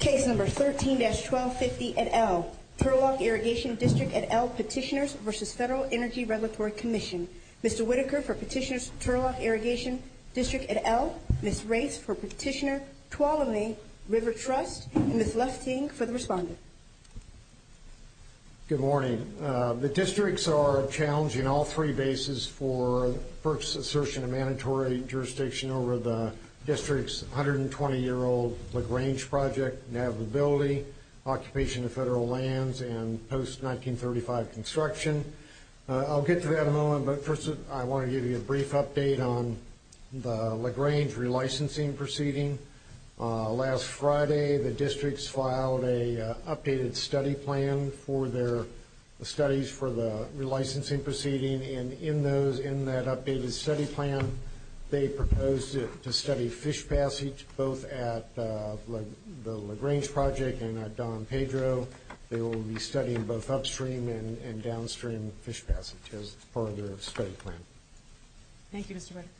Case number 13-1250 et al. Turlock Irrigation District et al. Petitioners v. Federal Energy Regulatory Commission. Mr. Whitaker for Petitioners Turlock Irrigation District et al., Ms. Race for Petitioner Tuolumne River Trust, and Ms. Lefting for the respondent. Good morning. The districts are challenging all three bases for FERC's assertion of mandatory jurisdiction over the district's 120-year-old LaGrange project navigability, occupation of federal lands, and post-1935 construction. I'll get to that in a moment, but first I want to give you a brief update on the LaGrange relicensing proceeding. Last Friday, the districts filed an updated study plan for their studies for the relicensing proceeding. And in that updated study plan, they proposed to study fish passage both at the LaGrange project and at Don Pedro. They will be studying both upstream and downstream fish passage as part of their study plan. Thank you, Mr. Whitaker.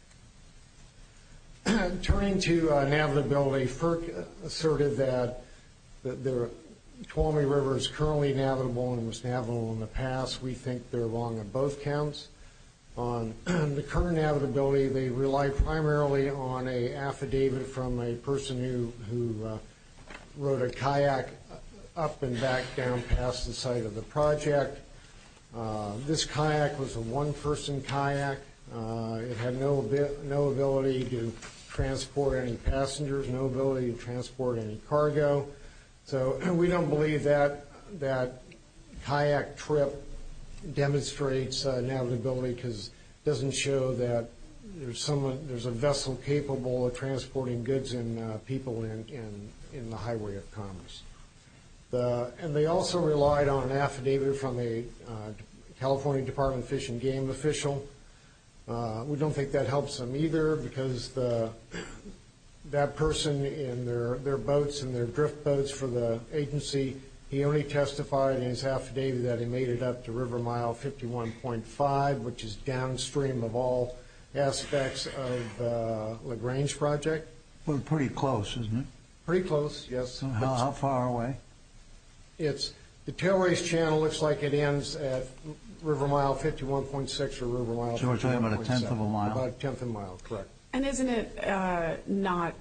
Turning to navigability, FERC asserted that the Tuolumne River is currently navigable and was navigable in the past. We think they're wrong on both counts. On the current navigability, they rely primarily on an affidavit from a person who rode a kayak up and back down past the site of the project. This kayak was a one-person kayak. It had no ability to transport any passengers, no ability to transport any cargo. So we don't believe that kayak trip demonstrates navigability because it doesn't show that there's a vessel capable of transporting goods and people in the highway of commerce. And they also relied on an affidavit from a California Department of Fish and Game official. We don't think that helps them either because that person and their boats and their drift boats for the agency, he only testified in his affidavit that he made it up to River Mile 51.5, which is downstream of all aspects of the LaGrange project. Well, pretty close, isn't it? Pretty close, yes. How far away? The tailrace channel looks like it ends at River Mile 51.6 or River Mile 51.7. About a tenth of a mile. About a tenth of a mile, correct. And isn't it not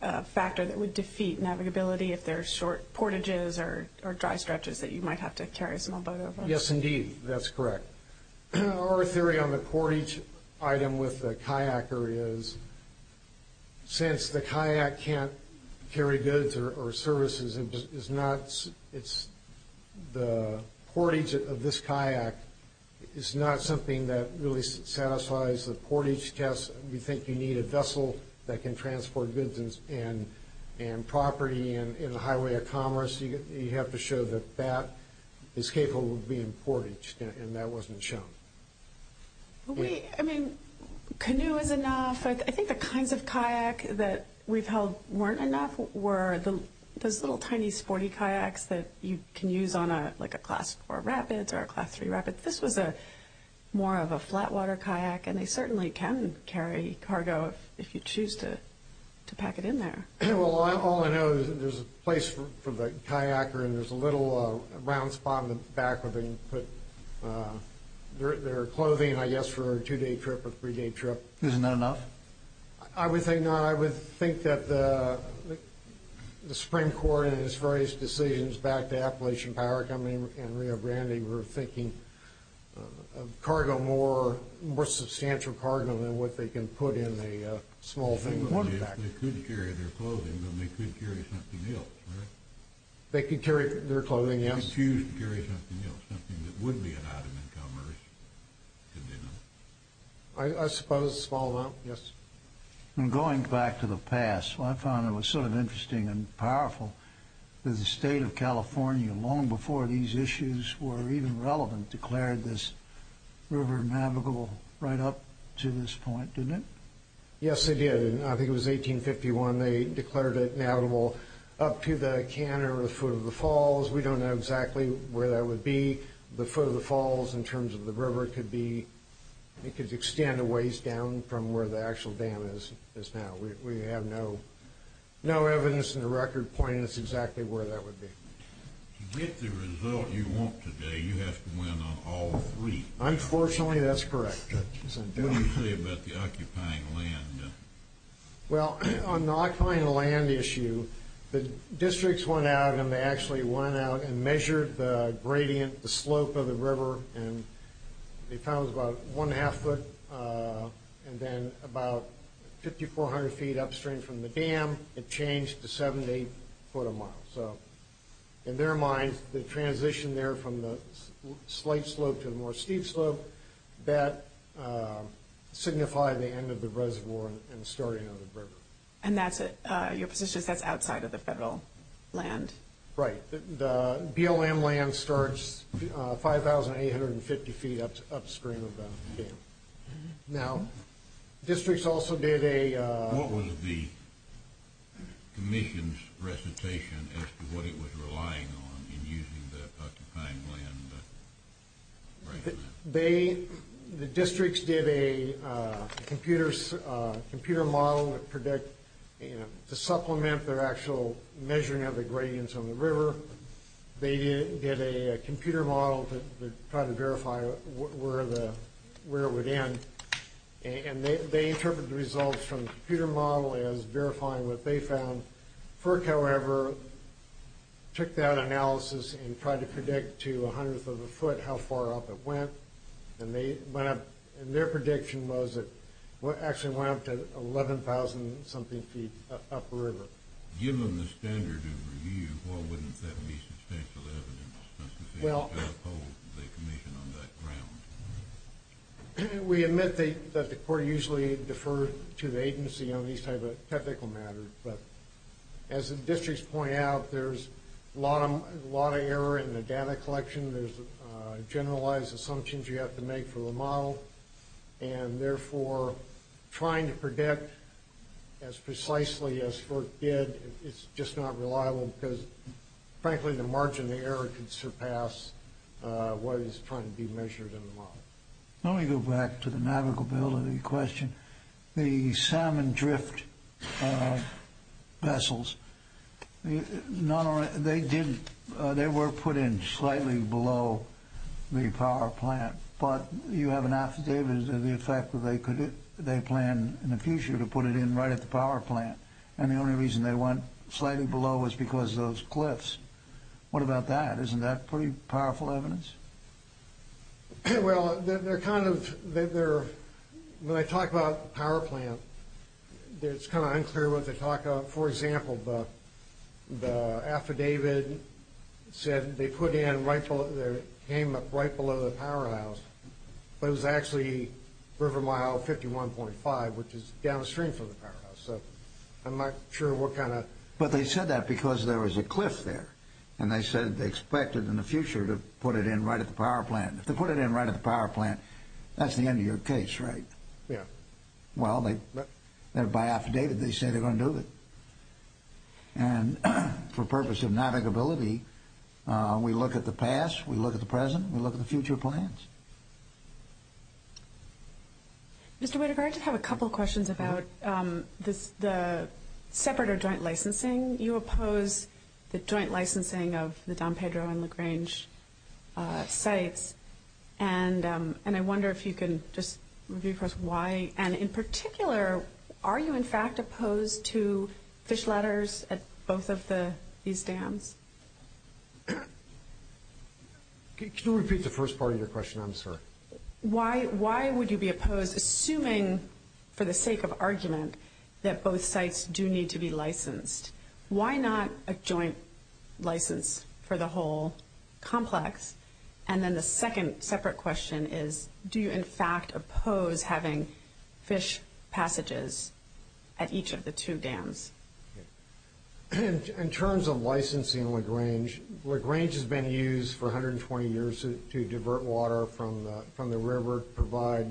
a factor that would defeat navigability if there's short portages or dry stretches that you might have to carry a small boat over? Yes, indeed, that's correct. Our theory on the portage item with the kayaker is since the kayak can't carry goods or services, the portage of this kayak is not something that really satisfies the portage test. We think you need a vessel that can transport goods and property in the highway of commerce. You have to show that that is capable of being portaged, and that wasn't shown. I mean, canoe is enough. I think the kinds of kayak that we've held weren't enough were those little tiny sporty kayaks that you can use on, like, a Class 4 Rapids or a Class 3 Rapids. This was more of a flatwater kayak, and they certainly can carry cargo if you choose to pack it in there. Well, all I know is that there's a place for the kayaker, and there's a little round spot in the back where they can put their clothing, I guess, for a two-day trip or three-day trip. Isn't that enough? I would think not. I would think that the Supreme Court, in its various decisions back to Appalachian Power Company and Rio Grande, they were thinking of cargo more, more substantial cargo than what they can put in a small thing. They could carry their clothing, but they could carry something else, right? They could carry their clothing, yes. They could choose to carry something else, something that would be an item in commerce. I suppose a small amount, yes. Going back to the past, I found it was sort of interesting and powerful that the state of California, long before these issues were even relevant, declared this river navigable right up to this point, didn't it? Yes, they did. I think it was 1851 they declared it navigable up to the canter or the foot of the falls. We don't know exactly where that would be. The foot of the falls in terms of the river could extend a ways down from where the actual dam is now. We have no evidence in the record pointing us exactly where that would be. To get the result you want today, you have to win on all three. Unfortunately, that's correct. What do you say about the occupying land? Well, on the occupying land issue, the districts went out and they actually went out and measured the gradient, the slope of the river. They found it was about one half foot and then about 5,400 feet upstream from the dam, it changed to 78 foot a mile. In their minds, the transition there from the slight slope to the more steep slope, that signified the end of the reservoir and the starting of the river. And your position is that's outside of the federal land? Right. The BLM land starts 5,850 feet upstream of the dam. Now, districts also did a... What was the commission's recitation as to what it was relying on in using the occupying land? The districts did a computer model to supplement their actual measuring of the gradients on the river. They did a computer model to try to verify where it would end. And they interpreted the results from the computer model as verifying what they found. FERC, however, took that analysis and tried to predict to a hundredth of a foot how far up it went. And their prediction was it actually went up to 11,000-something feet upriver. Given the standard of review, why wouldn't that be substantial evidence? Well, we admit that the court usually deferred to the agency on these types of technical matters. But as the districts point out, there's a lot of error in the data collection. There's generalized assumptions you have to make for the model. And therefore, trying to predict as precisely as FERC did is just not reliable because, frankly, the margin of error could surpass what is trying to be measured in the model. Let me go back to the navigability question. The salmon drift vessels, they were put in slightly below the power plant. But you have an affidavit of the effect that they plan in the future to put it in right at the power plant. And the only reason they went slightly below was because of those cliffs. What about that? Isn't that pretty powerful evidence? Well, they're kind of – when I talk about the power plant, it's kind of unclear what they talk about. For example, the affidavit said they put in right below – it came up right below the power house. But it was actually River Mile 51.5, which is downstream from the power house. So I'm not sure what kind of – But they said that because there was a cliff there. And they said they expected in the future to put it in right at the power plant. If they put it in right at the power plant, that's the end of your case, right? Yeah. Well, they're – by affidavit, they say they're going to do it. And for purpose of navigability, we look at the past. We look at the present. We look at the future plans. Mr. Whitaker, I just have a couple questions about the separate or joint licensing. You oppose the joint licensing of the Don Pedro and LaGrange sites. And I wonder if you can just give us why. And in particular, are you, in fact, opposed to fish ladders at both of these dams? Could you repeat the first part of your question? I'm sorry. Why would you be opposed, assuming, for the sake of argument, that both sites do need to be licensed? Why not a joint license for the whole complex? And then the second separate question is, do you, in fact, oppose having fish passages at each of the two dams? In terms of licensing LaGrange, LaGrange has been used for 120 years to divert water from the river, provide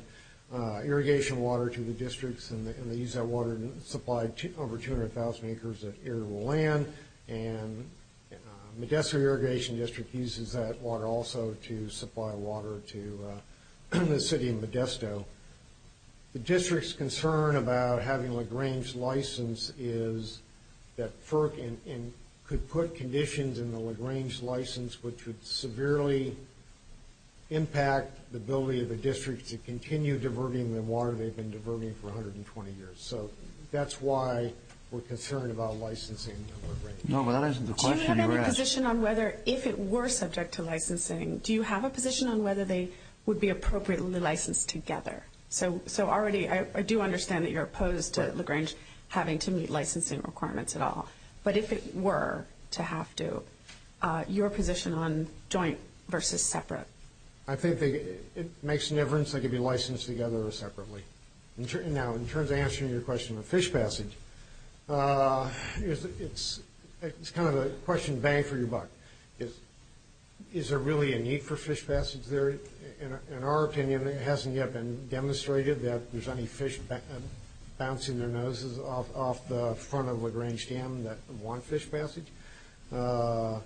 irrigation water to the districts, and they use that water to supply over 200,000 acres of arable land. And Modesto Irrigation District uses that water also to supply water to the city of Modesto. The district's concern about having LaGrange licensed is that FERC could put conditions in the LaGrange license which would severely impact the ability of the district to continue diverting the water they've been diverting for 120 years. So that's why we're concerned about licensing LaGrange. No, but that answers the question you asked. Do you have any position on whether, if it were subject to licensing, do you have a position on whether they would be appropriately licensed together? So already, I do understand that you're opposed to LaGrange having to meet licensing requirements at all. But if it were to have to, your position on joint versus separate? I think it makes no difference if they could be licensed together or separately. Now, in terms of answering your question of fish passage, it's kind of a question bang for your buck. Is there really a need for fish passage there? In our opinion, it hasn't yet been demonstrated that there's any fish bouncing their noses off the front of LaGrange Dam that want fish passage. But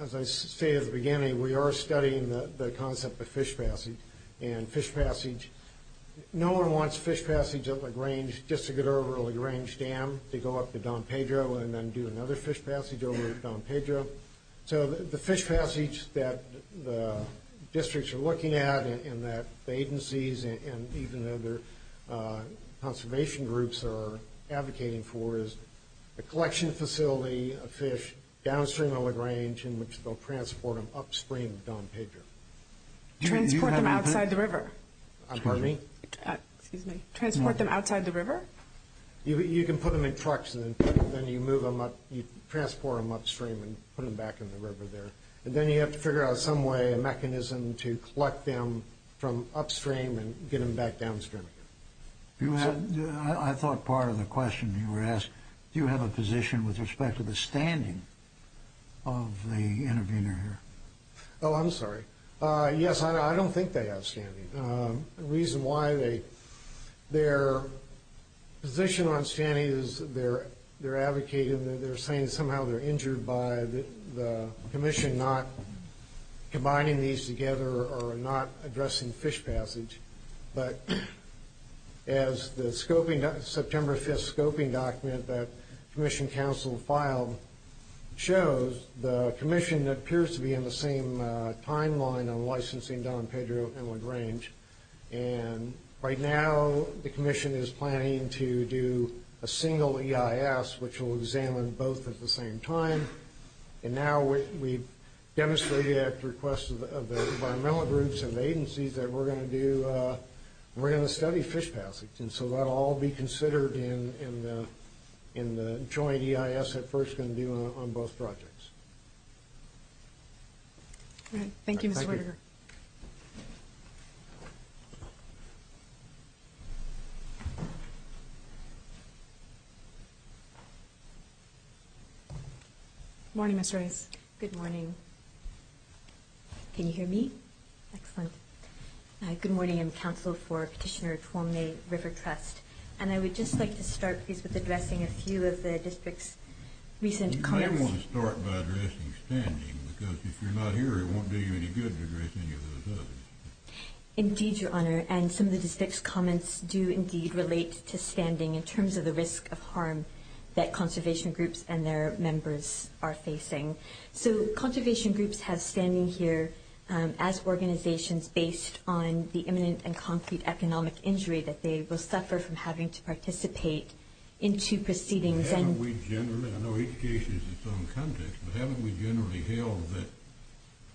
as I stated at the beginning, we are studying the concept of fish passage. And fish passage, no one wants fish passage at LaGrange just to get over LaGrange Dam to go up to Don Pedro and then do another fish passage over at Don Pedro. So the fish passage that the districts are looking at and that the agencies and even other conservation groups are advocating for is a collection facility of fish downstream of LaGrange in which they'll transport them upstream of Don Pedro. Transport them outside the river? Excuse me? Transport them outside the river? You can put them in trucks and then you move them up, you transport them upstream and put them back in the river there. And then you have to figure out some way, a mechanism to collect them from upstream and get them back downstream. I thought part of the question you were asking, do you have a position with respect to the standing of the intervener here? Oh, I'm sorry. Yes, I don't think they have standing. The reason why they, their position on standing is they're advocating, they're saying somehow they're injured by the commission not combining these together or not addressing fish passage. But as the scoping, September 5th scoping document that commission council filed shows, the commission appears to be in the same timeline on licensing Don Pedro and LaGrange. And right now the commission is planning to do a single EIS which will examine both at the same time. And now we've demonstrated at the request of the environmental groups and agencies that we're going to do, we're going to study fish passage. And so that'll all be considered in the joint EIS at first going to be on both projects. All right. Thank you, Mr. Roediger. Good morning, Mr. Rice. Good morning. Can you hear me? Excellent. Good morning. I'm counsel for Petitioner Twombly River Trust. And I would just like to start with addressing a few of the district's recent comments. You might want to start by addressing standing because if you're not here, it won't do you any good to address any of those others. Indeed, Your Honor. And some of the district's comments do indeed relate to standing in terms of the risk of harm that conservation groups and their members are facing. So conservation groups have standing here as organizations based on the imminent and concrete economic injury that they will suffer from having to participate in two proceedings. And haven't we generally, I know each case is its own context, but haven't we generally held that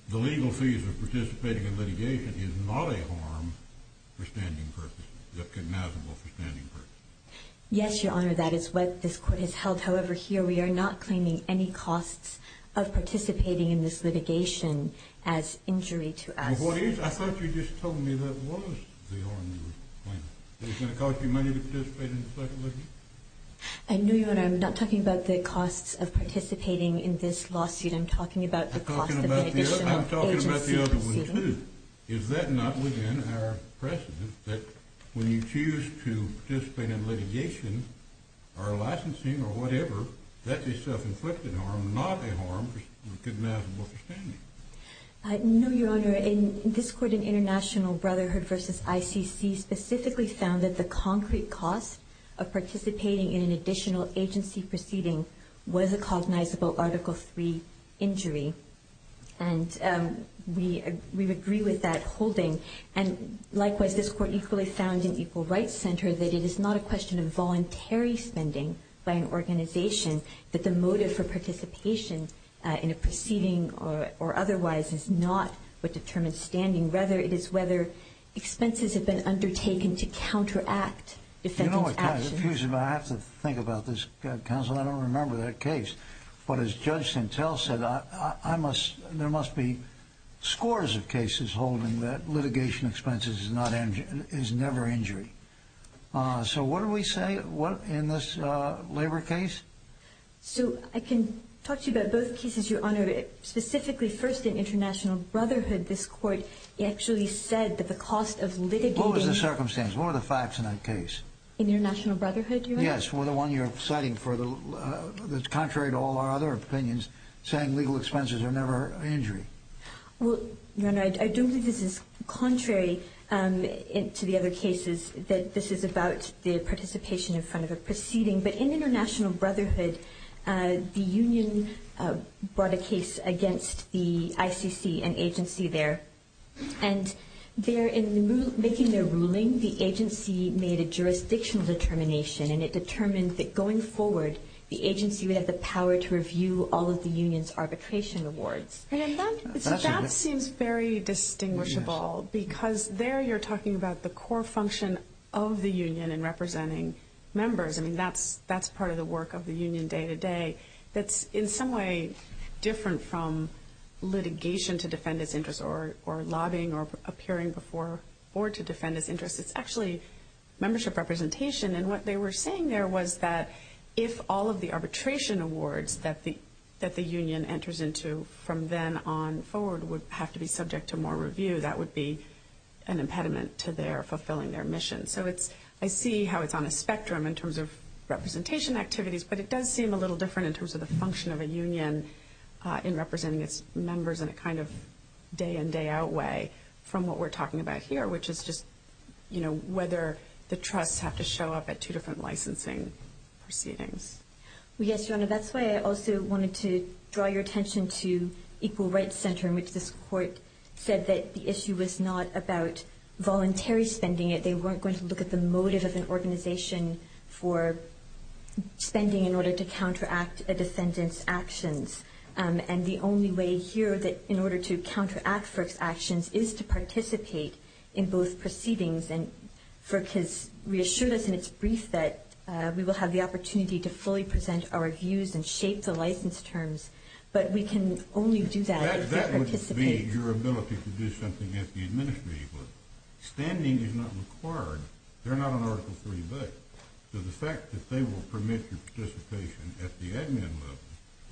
the legal fees of participating in litigation is not a harm for standing purposes, is recognizable for standing purposes? Yes, Your Honor. That is what this court has held. However, here we are not claiming any costs of participating in this litigation as injury to us. I thought you just told me that was the harm you were claiming, that it's going to cost you money to participate in the second litigation? No, Your Honor. I'm not talking about the costs of participating in this lawsuit. I'm talking about the cost of an additional agency proceeding. I'm talking about the other one, too. Is that not within our precedent that when you choose to participate in litigation or licensing or whatever, that's a self-inflicted harm, not a harm recognizable for standing? No, Your Honor. This court in International Brotherhood v. ICC specifically found that the concrete cost of participating in an additional agency proceeding was a cognizable Article III injury. And we agree with that holding. And likewise, this court equally found in Equal Rights Center that it is not a question of voluntary spending by an organization, that the motive for participation in a proceeding or otherwise is not what determines standing. Rather, it is whether expenses have been undertaken to counteract defendant's actions. You know what, counsel? I have to think about this, counsel. I don't remember that case. But as Judge Santel said, there must be scores of cases holding that litigation expenses is never injury. So what do we say in this labor case? So I can talk to you about both cases, Your Honor. Specifically, first, in International Brotherhood, this court actually said that the cost of litigating… What was the circumstance? What were the facts in that case? In International Brotherhood, Your Honor? Yes, the one you're citing that's contrary to all our other opinions, saying legal expenses are never injury. Well, Your Honor, I don't think this is contrary to the other cases, that this is about the participation in front of a proceeding. But in International Brotherhood, the union brought a case against the ICC, an agency there. And in making their ruling, the agency made a jurisdictional determination, and it determined that going forward, the agency would have the power to review all of the union's arbitration awards. That seems very distinguishable because there you're talking about the core function of the union in representing members. I mean, that's part of the work of the union day to day. That's in some way different from litigation to defend its interests or lobbying or appearing before board to defend its interests. It's actually membership representation. And what they were saying there was that if all of the arbitration awards that the union enters into from then on forward would have to be subject to more review, that would be an impediment to their fulfilling their mission. So I see how it's on a spectrum in terms of representation activities, but it does seem a little different in terms of the function of a union in representing its members in a kind of day-in, day-out way from what we're talking about here, which is just, you know, whether the trusts have to show up at two different licensing proceedings. Well, yes, Your Honor, that's why I also wanted to draw your attention to Equal Rights Center, in which this court said that the issue was not about voluntary spending it. They weren't going to look at the motive of an organization for spending in order to counteract a defendant's actions. And the only way here that in order to counteract FERC's actions is to participate in both proceedings. And FERC has reassured us in its brief that we will have the opportunity to fully present our views and shape the license terms, but we can only do that if we participate. It would be your ability to do something at the administrative level. Standing is not required. They're not on Article 3b. So the fact that they will permit your participation at the admin level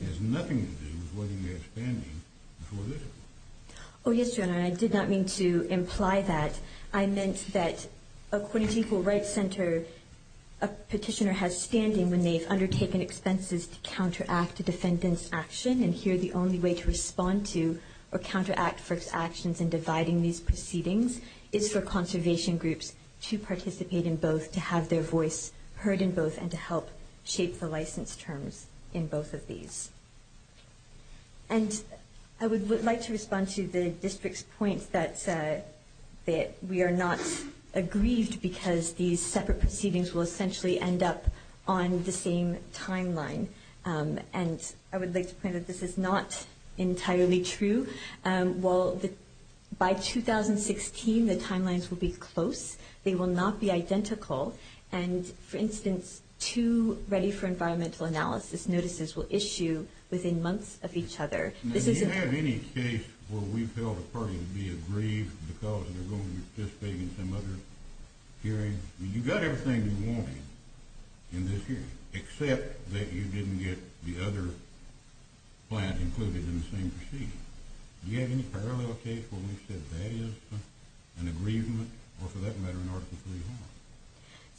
has nothing to do with whether you have standing for this. Oh, yes, Your Honor, and I did not mean to imply that. I meant that according to Equal Rights Center, a petitioner has standing when they've undertaken expenses to counteract a defendant's action, and here the only way to respond to or counteract FERC's actions in dividing these proceedings is for conservation groups to participate in both, to have their voice heard in both, and to help shape the license terms in both of these. And I would like to respond to the district's point that we are not aggrieved because these separate proceedings will essentially end up on the same timeline. And I would like to point out that this is not entirely true. By 2016, the timelines will be close. They will not be identical. And, for instance, two Ready for Environmental Analysis notices will issue within months of each other. Do you have any case where we've held a party to be aggrieved because they're going to be participating in some other hearing? I mean, you got everything you wanted in this hearing, except that you didn't get the other plant included in the same proceeding. Do you have any parallel case where we've said that is an aggrievement, or for that matter, an article of free will?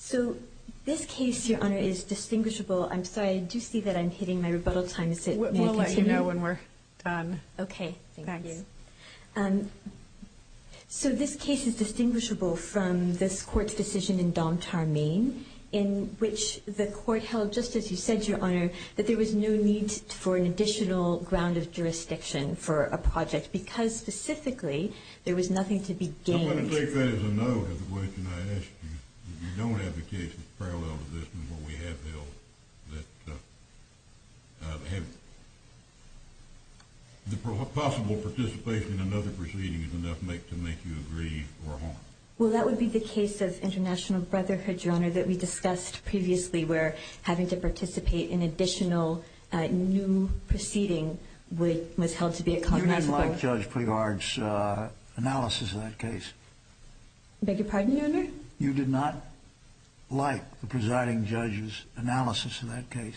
So this case, Your Honor, is distinguishable. I'm sorry, I do see that I'm hitting my rebuttal time. Is it— We'll let you know when we're done. Okay, thank you. So this case is distinguishable from this court's decision in Dom Tarmine in which the court held, just as you said, Your Honor, that there was no need for an additional ground of jurisdiction for a project because, specifically, there was nothing to be gained. I'm going to take that as a no to the question I asked you. If you don't have a case that's parallel to this one where we have held, the possible participation in another proceeding is enough to make you aggrieve or harm. Well, that would be the case of International Brotherhood, Your Honor, that we discussed previously where having to participate in an additional new proceeding was held to be a contractual— You didn't like Judge Prigard's analysis of that case. I beg your pardon, Your Honor? You did not like the presiding judge's analysis of that case.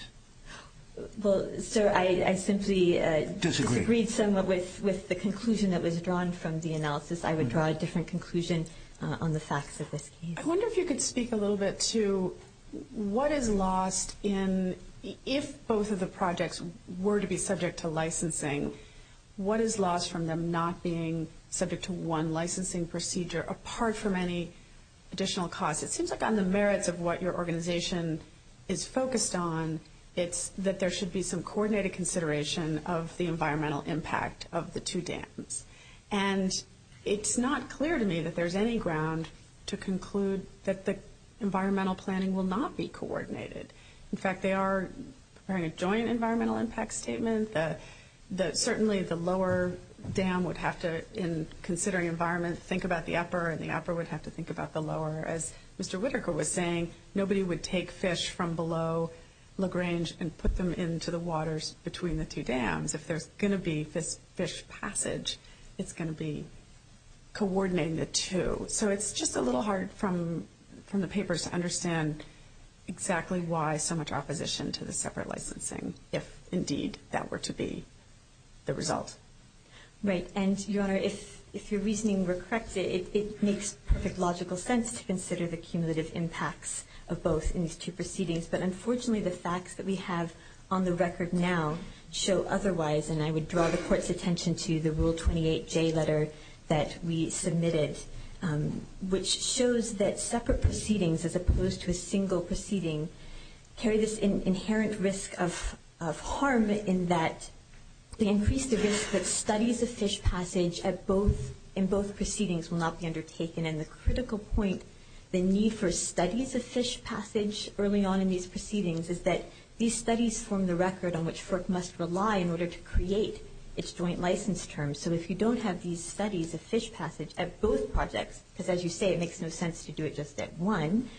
Well, sir, I simply disagreed somewhat with the conclusion that was drawn from the analysis. I would draw a different conclusion on the facts of this case. I wonder if you could speak a little bit to what is lost in— if both of the projects were to be subject to licensing, what is lost from them not being subject to one licensing procedure apart from any additional costs? It seems like on the merits of what your organization is focused on, it's that there should be some coordinated consideration of the environmental impact of the two dams. And it's not clear to me that there's any ground to conclude that the environmental planning will not be coordinated. In fact, they are preparing a joint environmental impact statement. Certainly, the lower dam would have to, in considering environment, think about the upper, and the upper would have to think about the lower. As Mr. Whitaker was saying, nobody would take fish from below LaGrange and put them into the waters between the two dams. If there's going to be fish passage, it's going to be coordinating the two. So it's just a little hard from the papers to understand exactly why so much opposition to the separate licensing, if indeed that were to be the result. Right. And, Your Honor, if your reasoning were correct, it makes perfect logical sense to consider the cumulative impacts of both in these two proceedings. But unfortunately, the facts that we have on the record now show otherwise, and I would draw the Court's attention to the Rule 28J letter that we submitted, which shows that separate proceedings, as opposed to a single proceeding, carry this inherent risk of harm in that they increase the risk that studies of fish passage in both proceedings will not be undertaken. And the critical point, the need for studies of fish passage early on in these proceedings, is that these studies form the record on which FERC must rely in order to create its joint license terms. So if you don't have these studies of fish passage at both projects, because as you say, it makes no sense to do it just at one,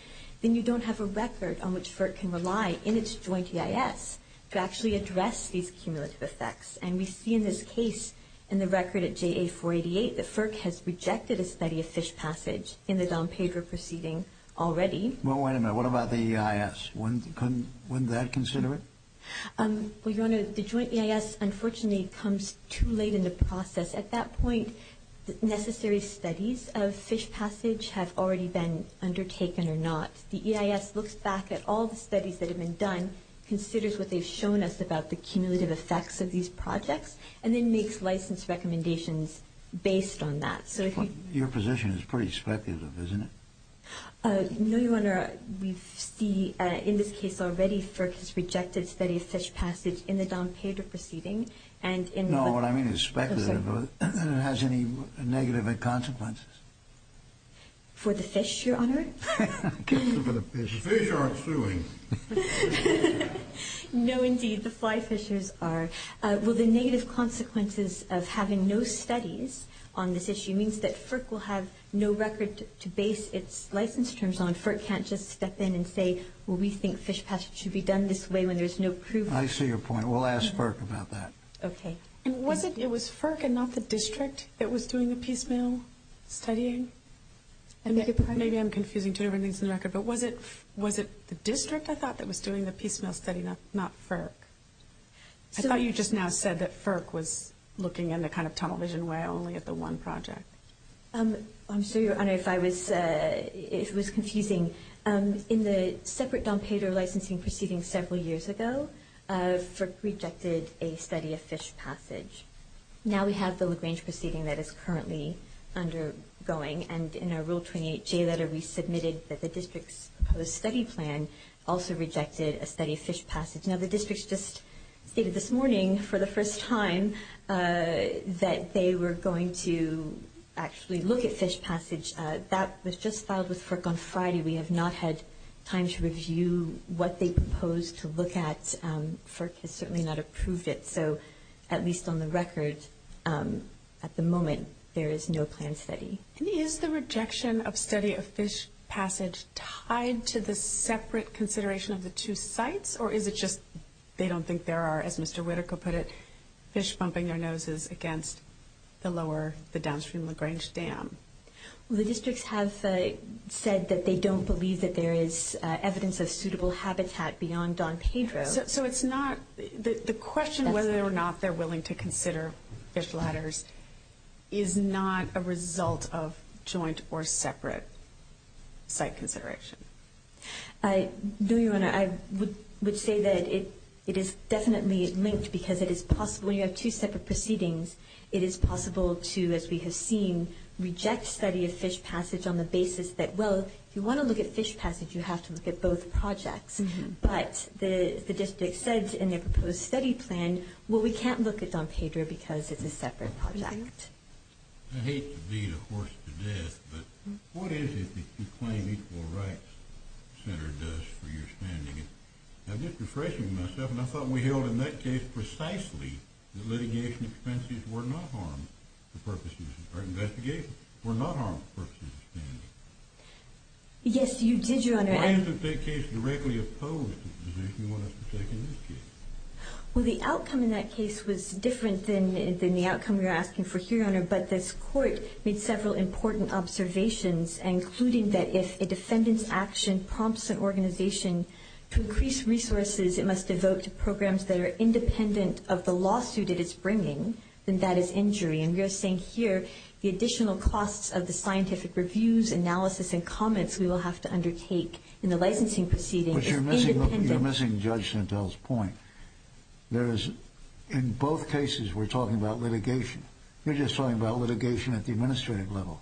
then you don't have a record on which FERC can rely in its joint EIS to actually address these cumulative effects. And we see in this case, in the record at JA-488, that FERC has rejected a study of fish passage in the Dom Pedro proceeding already. Well, wait a minute. What about the EIS? Wouldn't that consider it? Well, Your Honor, the joint EIS unfortunately comes too late in the process. At that point, necessary studies of fish passage have already been undertaken or not. The EIS looks back at all the studies that have been done, considers what they've shown us about the cumulative effects of these projects, and then makes license recommendations based on that. Your position is pretty speculative, isn't it? No, Your Honor. We see in this case already FERC has rejected studies of fish passage in the Dom Pedro proceeding. No, what I mean is speculative. And it has any negative consequences? For the fish, Your Honor. Fish aren't suing. No, indeed, the fly fishers are. Well, the negative consequences of having no studies on this issue means that FERC will have no record to base its license terms on. FERC can't just step in and say, well, we think fish passage should be done this way when there's no proof. I see your point. We'll ask FERC about that. Okay. And was it FERC and not the district that was doing the piecemeal studying? Maybe I'm confusing two different things on the record, but was it the district, I thought, that was doing the piecemeal study, not FERC? I thought you just now said that FERC was looking in the kind of tunnel vision way, only at the one project. I'm sorry, Your Honor, if it was confusing. In the separate Dom Pedro licensing proceeding several years ago, FERC rejected a study of fish passage. Now we have the LaGrange proceeding that is currently undergoing. And in our Rule 28J letter, we submitted that the district's proposed study plan also rejected a study of fish passage. Now, the district just stated this morning for the first time that they were going to actually look at fish passage. That was just filed with FERC on Friday. We have not had time to review what they proposed to look at. FERC has certainly not approved it. So at least on the record, at the moment, there is no planned study. And is the rejection of study of fish passage tied to the separate consideration of the two sites, or is it just they don't think there are, as Mr. Whitaker put it, fish bumping their noses against the downstream LaGrange Dam? The districts have said that they don't believe that there is evidence of suitable habitat beyond Dom Pedro. So the question of whether or not they're willing to consider fish ladders is not a result of joint or separate site consideration? No, Your Honor. I would say that it is definitely linked because it is possible when you have two separate proceedings, it is possible to, as we have seen, reject study of fish passage on the basis that, well, if you want to look at fish passage, you have to look at both projects. But the district said in their proposed study plan, well, we can't look at Dom Pedro because it's a separate project. I hate to beat a horse to death, but what is it that you claim Equal Rights Center does for your standing? I'm just refreshing myself, and I thought we held in that case precisely that litigation expenses were not harmed for purposes of investigation, were not harmed for purposes of standing. Yes, you did, Your Honor. Why isn't that case directly opposed to the position you want us to take in this case? Well, the outcome in that case was different than the outcome you're asking for here, Your Honor, but this court made several important observations, including that if a defendant's action prompts an organization to increase resources, it must devote to programs that are independent of the lawsuit it is bringing, then that is injury. And we are saying here the additional costs of the scientific reviews, analysis, and comments we will have to undertake in the licensing proceedings is independent. You're missing Judge Sintel's point. In both cases, we're talking about litigation. You're just talking about litigation at the administrative level.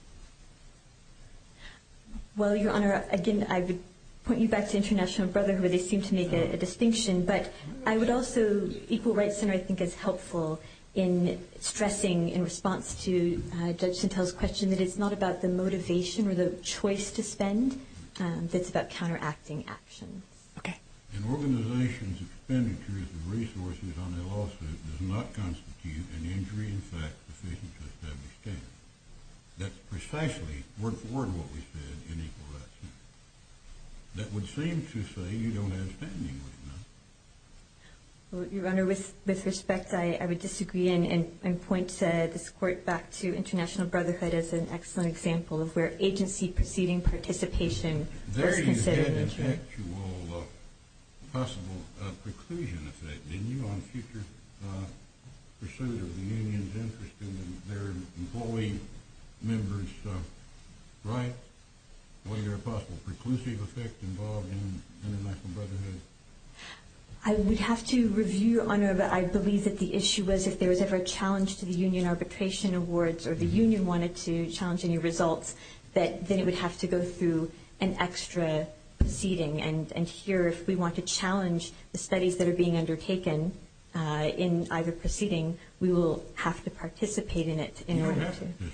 Well, Your Honor, again, I would point you back to International Brotherhood, where they seem to make a distinction, but I would also, Equal Rights Center, I think, is helpful in stressing in response to Judge Sintel's question that it's not about the motivation or the choice to spend. It's about counteracting action. Okay. An organization's expenditures and resources on their lawsuit does not constitute an injury in fact sufficient to establish standards. That's precisely, word for word, what we said in Equal Rights Center. That would seem to say you don't have standing, would it not? Well, Your Honor, with respect, I would disagree and point this court back to International Brotherhood as an excellent example of where agency proceeding participation is considered an injury. There you had an actual possible preclusion effect, didn't you, on future pursuit of the union's interest in their employee members' rights? Was there a possible preclusive effect involved in International Brotherhood? I would have to review, Your Honor, but I believe that the issue was if there was ever a challenge to the union arbitration awards or the union wanted to challenge any results, that then it would have to go through an extra proceeding. And here, if we want to challenge the studies that are being undertaken in either proceeding, we will have to participate in it in order to— You don't have to participate.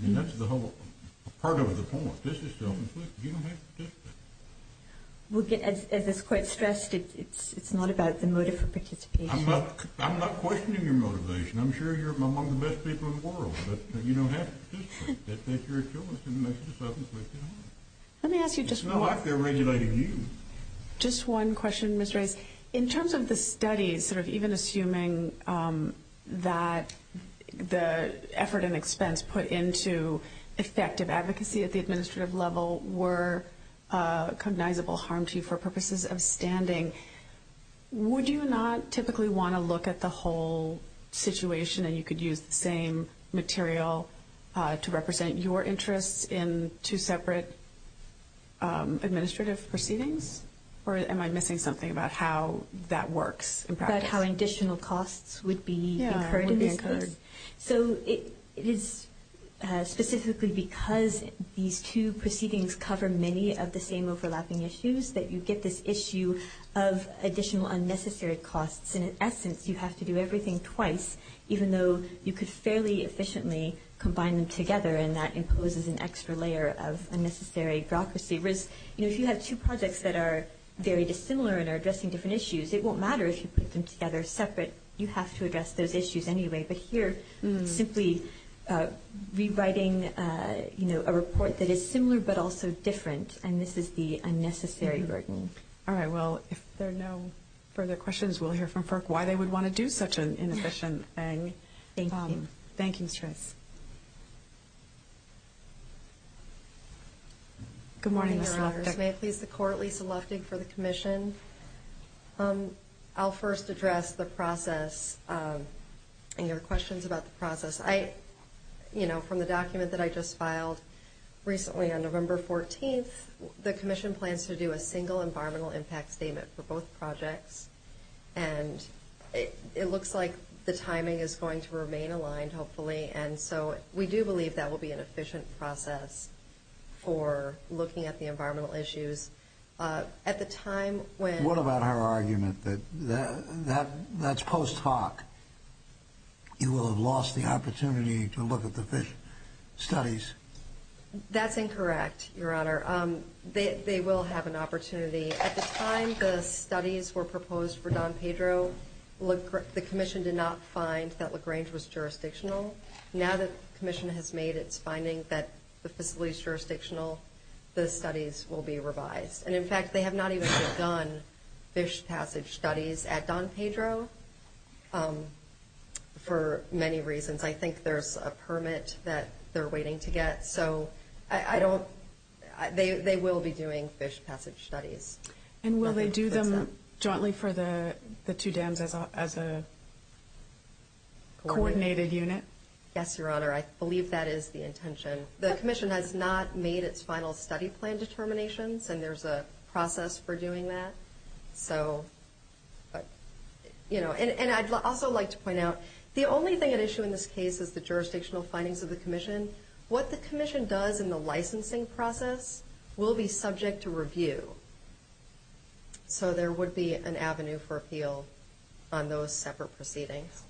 I mean, that's the whole—part of the point. This is still in place. You don't have to participate. Well, as is quite stressed, it's not about the motive for participation. I'm not questioning your motivation. I'm sure you're among the best people in the world, but you don't have to participate. That's your choice, and that's just up to you, Your Honor. Let me ask you just one— It's not like they're regulating you. Just one question, Ms. Reyes. In terms of the studies, sort of even assuming that the effort and expense put into effective advocacy at the administrative level were a cognizable harm to you for purposes of standing, would you not typically want to look at the whole situation and you could use the same material to represent your interests in two separate administrative proceedings? Or am I missing something about how that works in practice? About how additional costs would be incurred in this case? Yeah, would be incurred. So it is specifically because these two proceedings cover many of the same overlapping issues that you get this issue of additional unnecessary costs. In essence, you have to do everything twice, even though you could fairly efficiently combine them together, and that imposes an extra layer of unnecessary bureaucracy risk. If you have two projects that are very dissimilar and are addressing different issues, it won't matter if you put them together separate. You have to address those issues anyway. But here, simply rewriting a report that is similar but also different, and this is the unnecessary burden. All right. Well, if there are no further questions, we'll hear from FERC why they would want to do such an inefficient thing. Thank you. Thank you, Ms. Reyes. Good morning, Ms. Luftig. Good morning, Your Honors. May it please the Court, Lisa Luftig for the Commission. I'll first address the process and your questions about the process. You know, from the document that I just filed recently on November 14th, the Commission plans to do a single environmental impact statement for both projects, and it looks like the timing is going to remain aligned, hopefully, and so we do believe that will be an efficient process for looking at the environmental issues. At the time when- What about her argument that that's post hoc? You will have lost the opportunity to look at the studies. That's incorrect, Your Honor. They will have an opportunity. At the time the studies were proposed for Don Pedro, the Commission did not find that LaGrange was jurisdictional. Now that the Commission has made its finding that the facility is jurisdictional, the studies will be revised. And, in fact, they have not even begun fish passage studies at Don Pedro for many reasons. I think there's a permit that they're waiting to get, so I don't- they will be doing fish passage studies. And will they do them jointly for the two dams as a coordinated unit? Yes, Your Honor. I believe that is the intention. The Commission has not made its final study plan determinations, and there's a process for doing that. So, you know, and I'd also like to point out, the only thing at issue in this case is the jurisdictional findings of the Commission. What the Commission does in the licensing process will be subject to review. So there would be an avenue for appeal on those separate proceedings.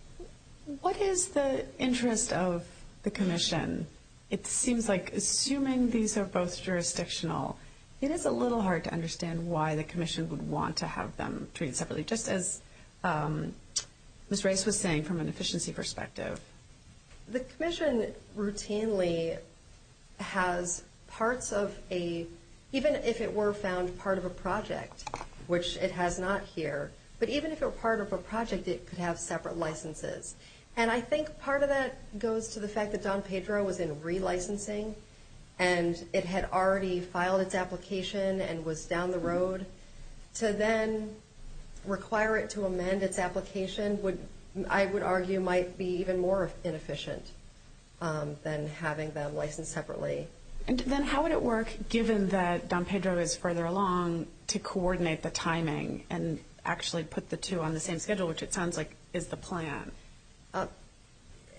What is the interest of the Commission? It seems like, assuming these are both jurisdictional, it is a little hard to understand why the Commission would want to have them treated separately, just as Ms. Rice was saying from an efficiency perspective. The Commission routinely has parts of a-even if it were found part of a project, which it has not here, but even if it were part of a project, it could have separate licenses. And I think part of that goes to the fact that Don Pedro was in relicensing, and it had already filed its application and was down the road. To then require it to amend its application would, I would argue, might be even more inefficient than having them licensed separately. Then how would it work, given that Don Pedro is further along, to coordinate the timing and actually put the two on the same schedule, which it sounds like is the plan?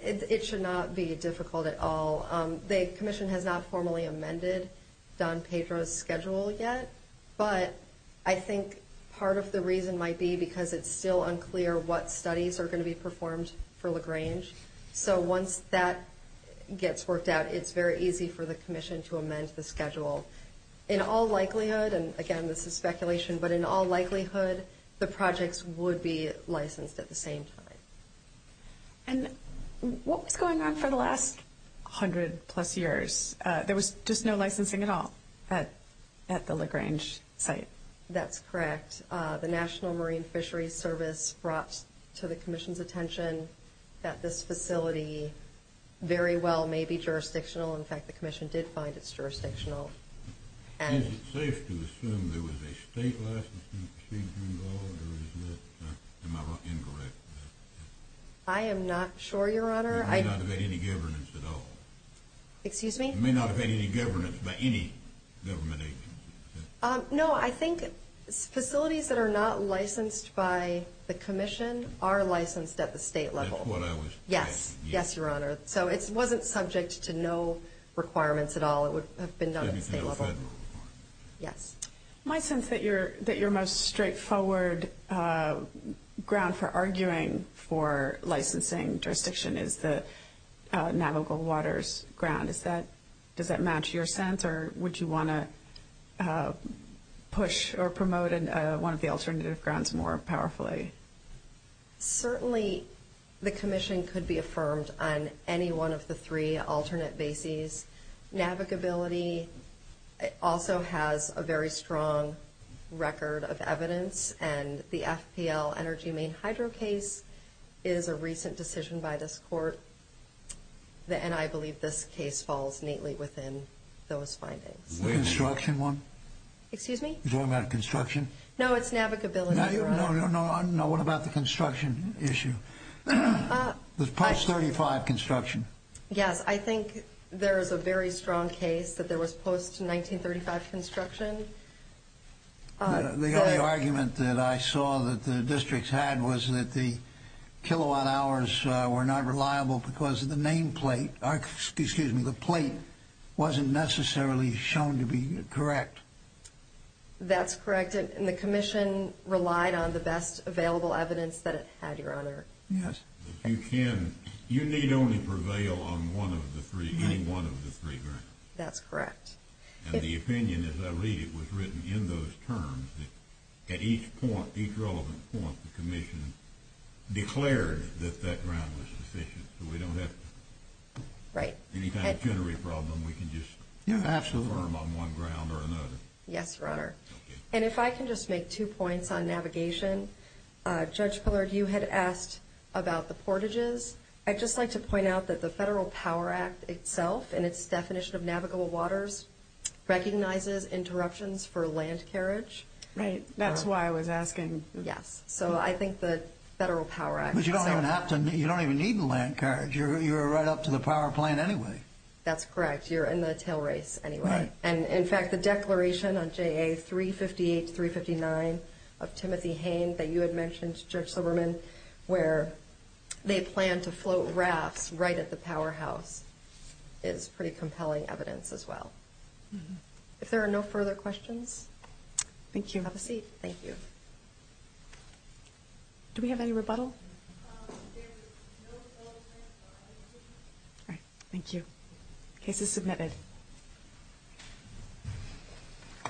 It should not be difficult at all. The Commission has not formally amended Don Pedro's schedule yet, but I think part of the reason might be because it's still unclear what studies are going to be performed for LaGrange. So once that gets worked out, it's very easy for the Commission to amend the schedule. In all likelihood, and again this is speculation, but in all likelihood the projects would be licensed at the same time. And what was going on for the last 100-plus years? There was just no licensing at all at the LaGrange site. That's correct. The National Marine Fisheries Service brought to the Commission's attention that this facility very well may be jurisdictional. In fact, the Commission did find it jurisdictional. Is it safe to assume there was a state license to proceed through law, or is that incorrect? I am not sure, Your Honor. It may not have had any governance at all. Excuse me? It may not have had any governance by any government agency. No, I think facilities that are not licensed by the Commission are licensed at the state level. That's what I was asking. Yes, Your Honor. So it wasn't subject to no requirements at all. It would have been done at the state level. Yes. My sense is that your most straightforward ground for arguing for licensing jurisdiction is the Navajo Gold Waters ground. Does that match your sense, or would you want to push or promote one of the alternative grounds more powerfully? Certainly, the Commission could be affirmed on any one of the three alternate bases. Navigability also has a very strong record of evidence, and the FPL Energy Main Hydro case is a recent decision by this Court, and I believe this case falls neatly within those findings. The construction one? Excuse me? No, it's navigability, Your Honor. No, what about the construction issue, the post-1935 construction? Yes, I think there is a very strong case that there was post-1935 construction. The only argument that I saw that the districts had was that the kilowatt hours were not reliable because the nameplate, excuse me, the plate wasn't necessarily shown to be correct. That's correct, and the Commission relied on the best available evidence that it had, Your Honor. Yes. If you can, you need only prevail on one of the three, any one of the three grounds. That's correct. And the opinion, as I read it, was written in those terms that at each point, each relevant point, the Commission declared that that ground was sufficient, so we don't have any kind of jittery problem. We can just confirm on one ground or another. Yes, Your Honor. And if I can just make two points on navigation. Judge Pillard, you had asked about the portages. I'd just like to point out that the Federal Power Act itself and its definition of navigable waters recognizes interruptions for land carriage. Right, that's why I was asking. Yes, so I think the Federal Power Act. But you don't even have to, you don't even need the land carriage. You're right up to the power plant anyway. That's correct. You're in the tailrace anyway. And, in fact, the declaration on JA 358-359 of Timothy Hayne that you had mentioned, Judge Silberman, where they plan to float rafts right at the powerhouse is pretty compelling evidence as well. If there are no further questions, have a seat. Thank you. Do we have any rebuttal? There is no rebuttal. All right, thank you. Case is submitted.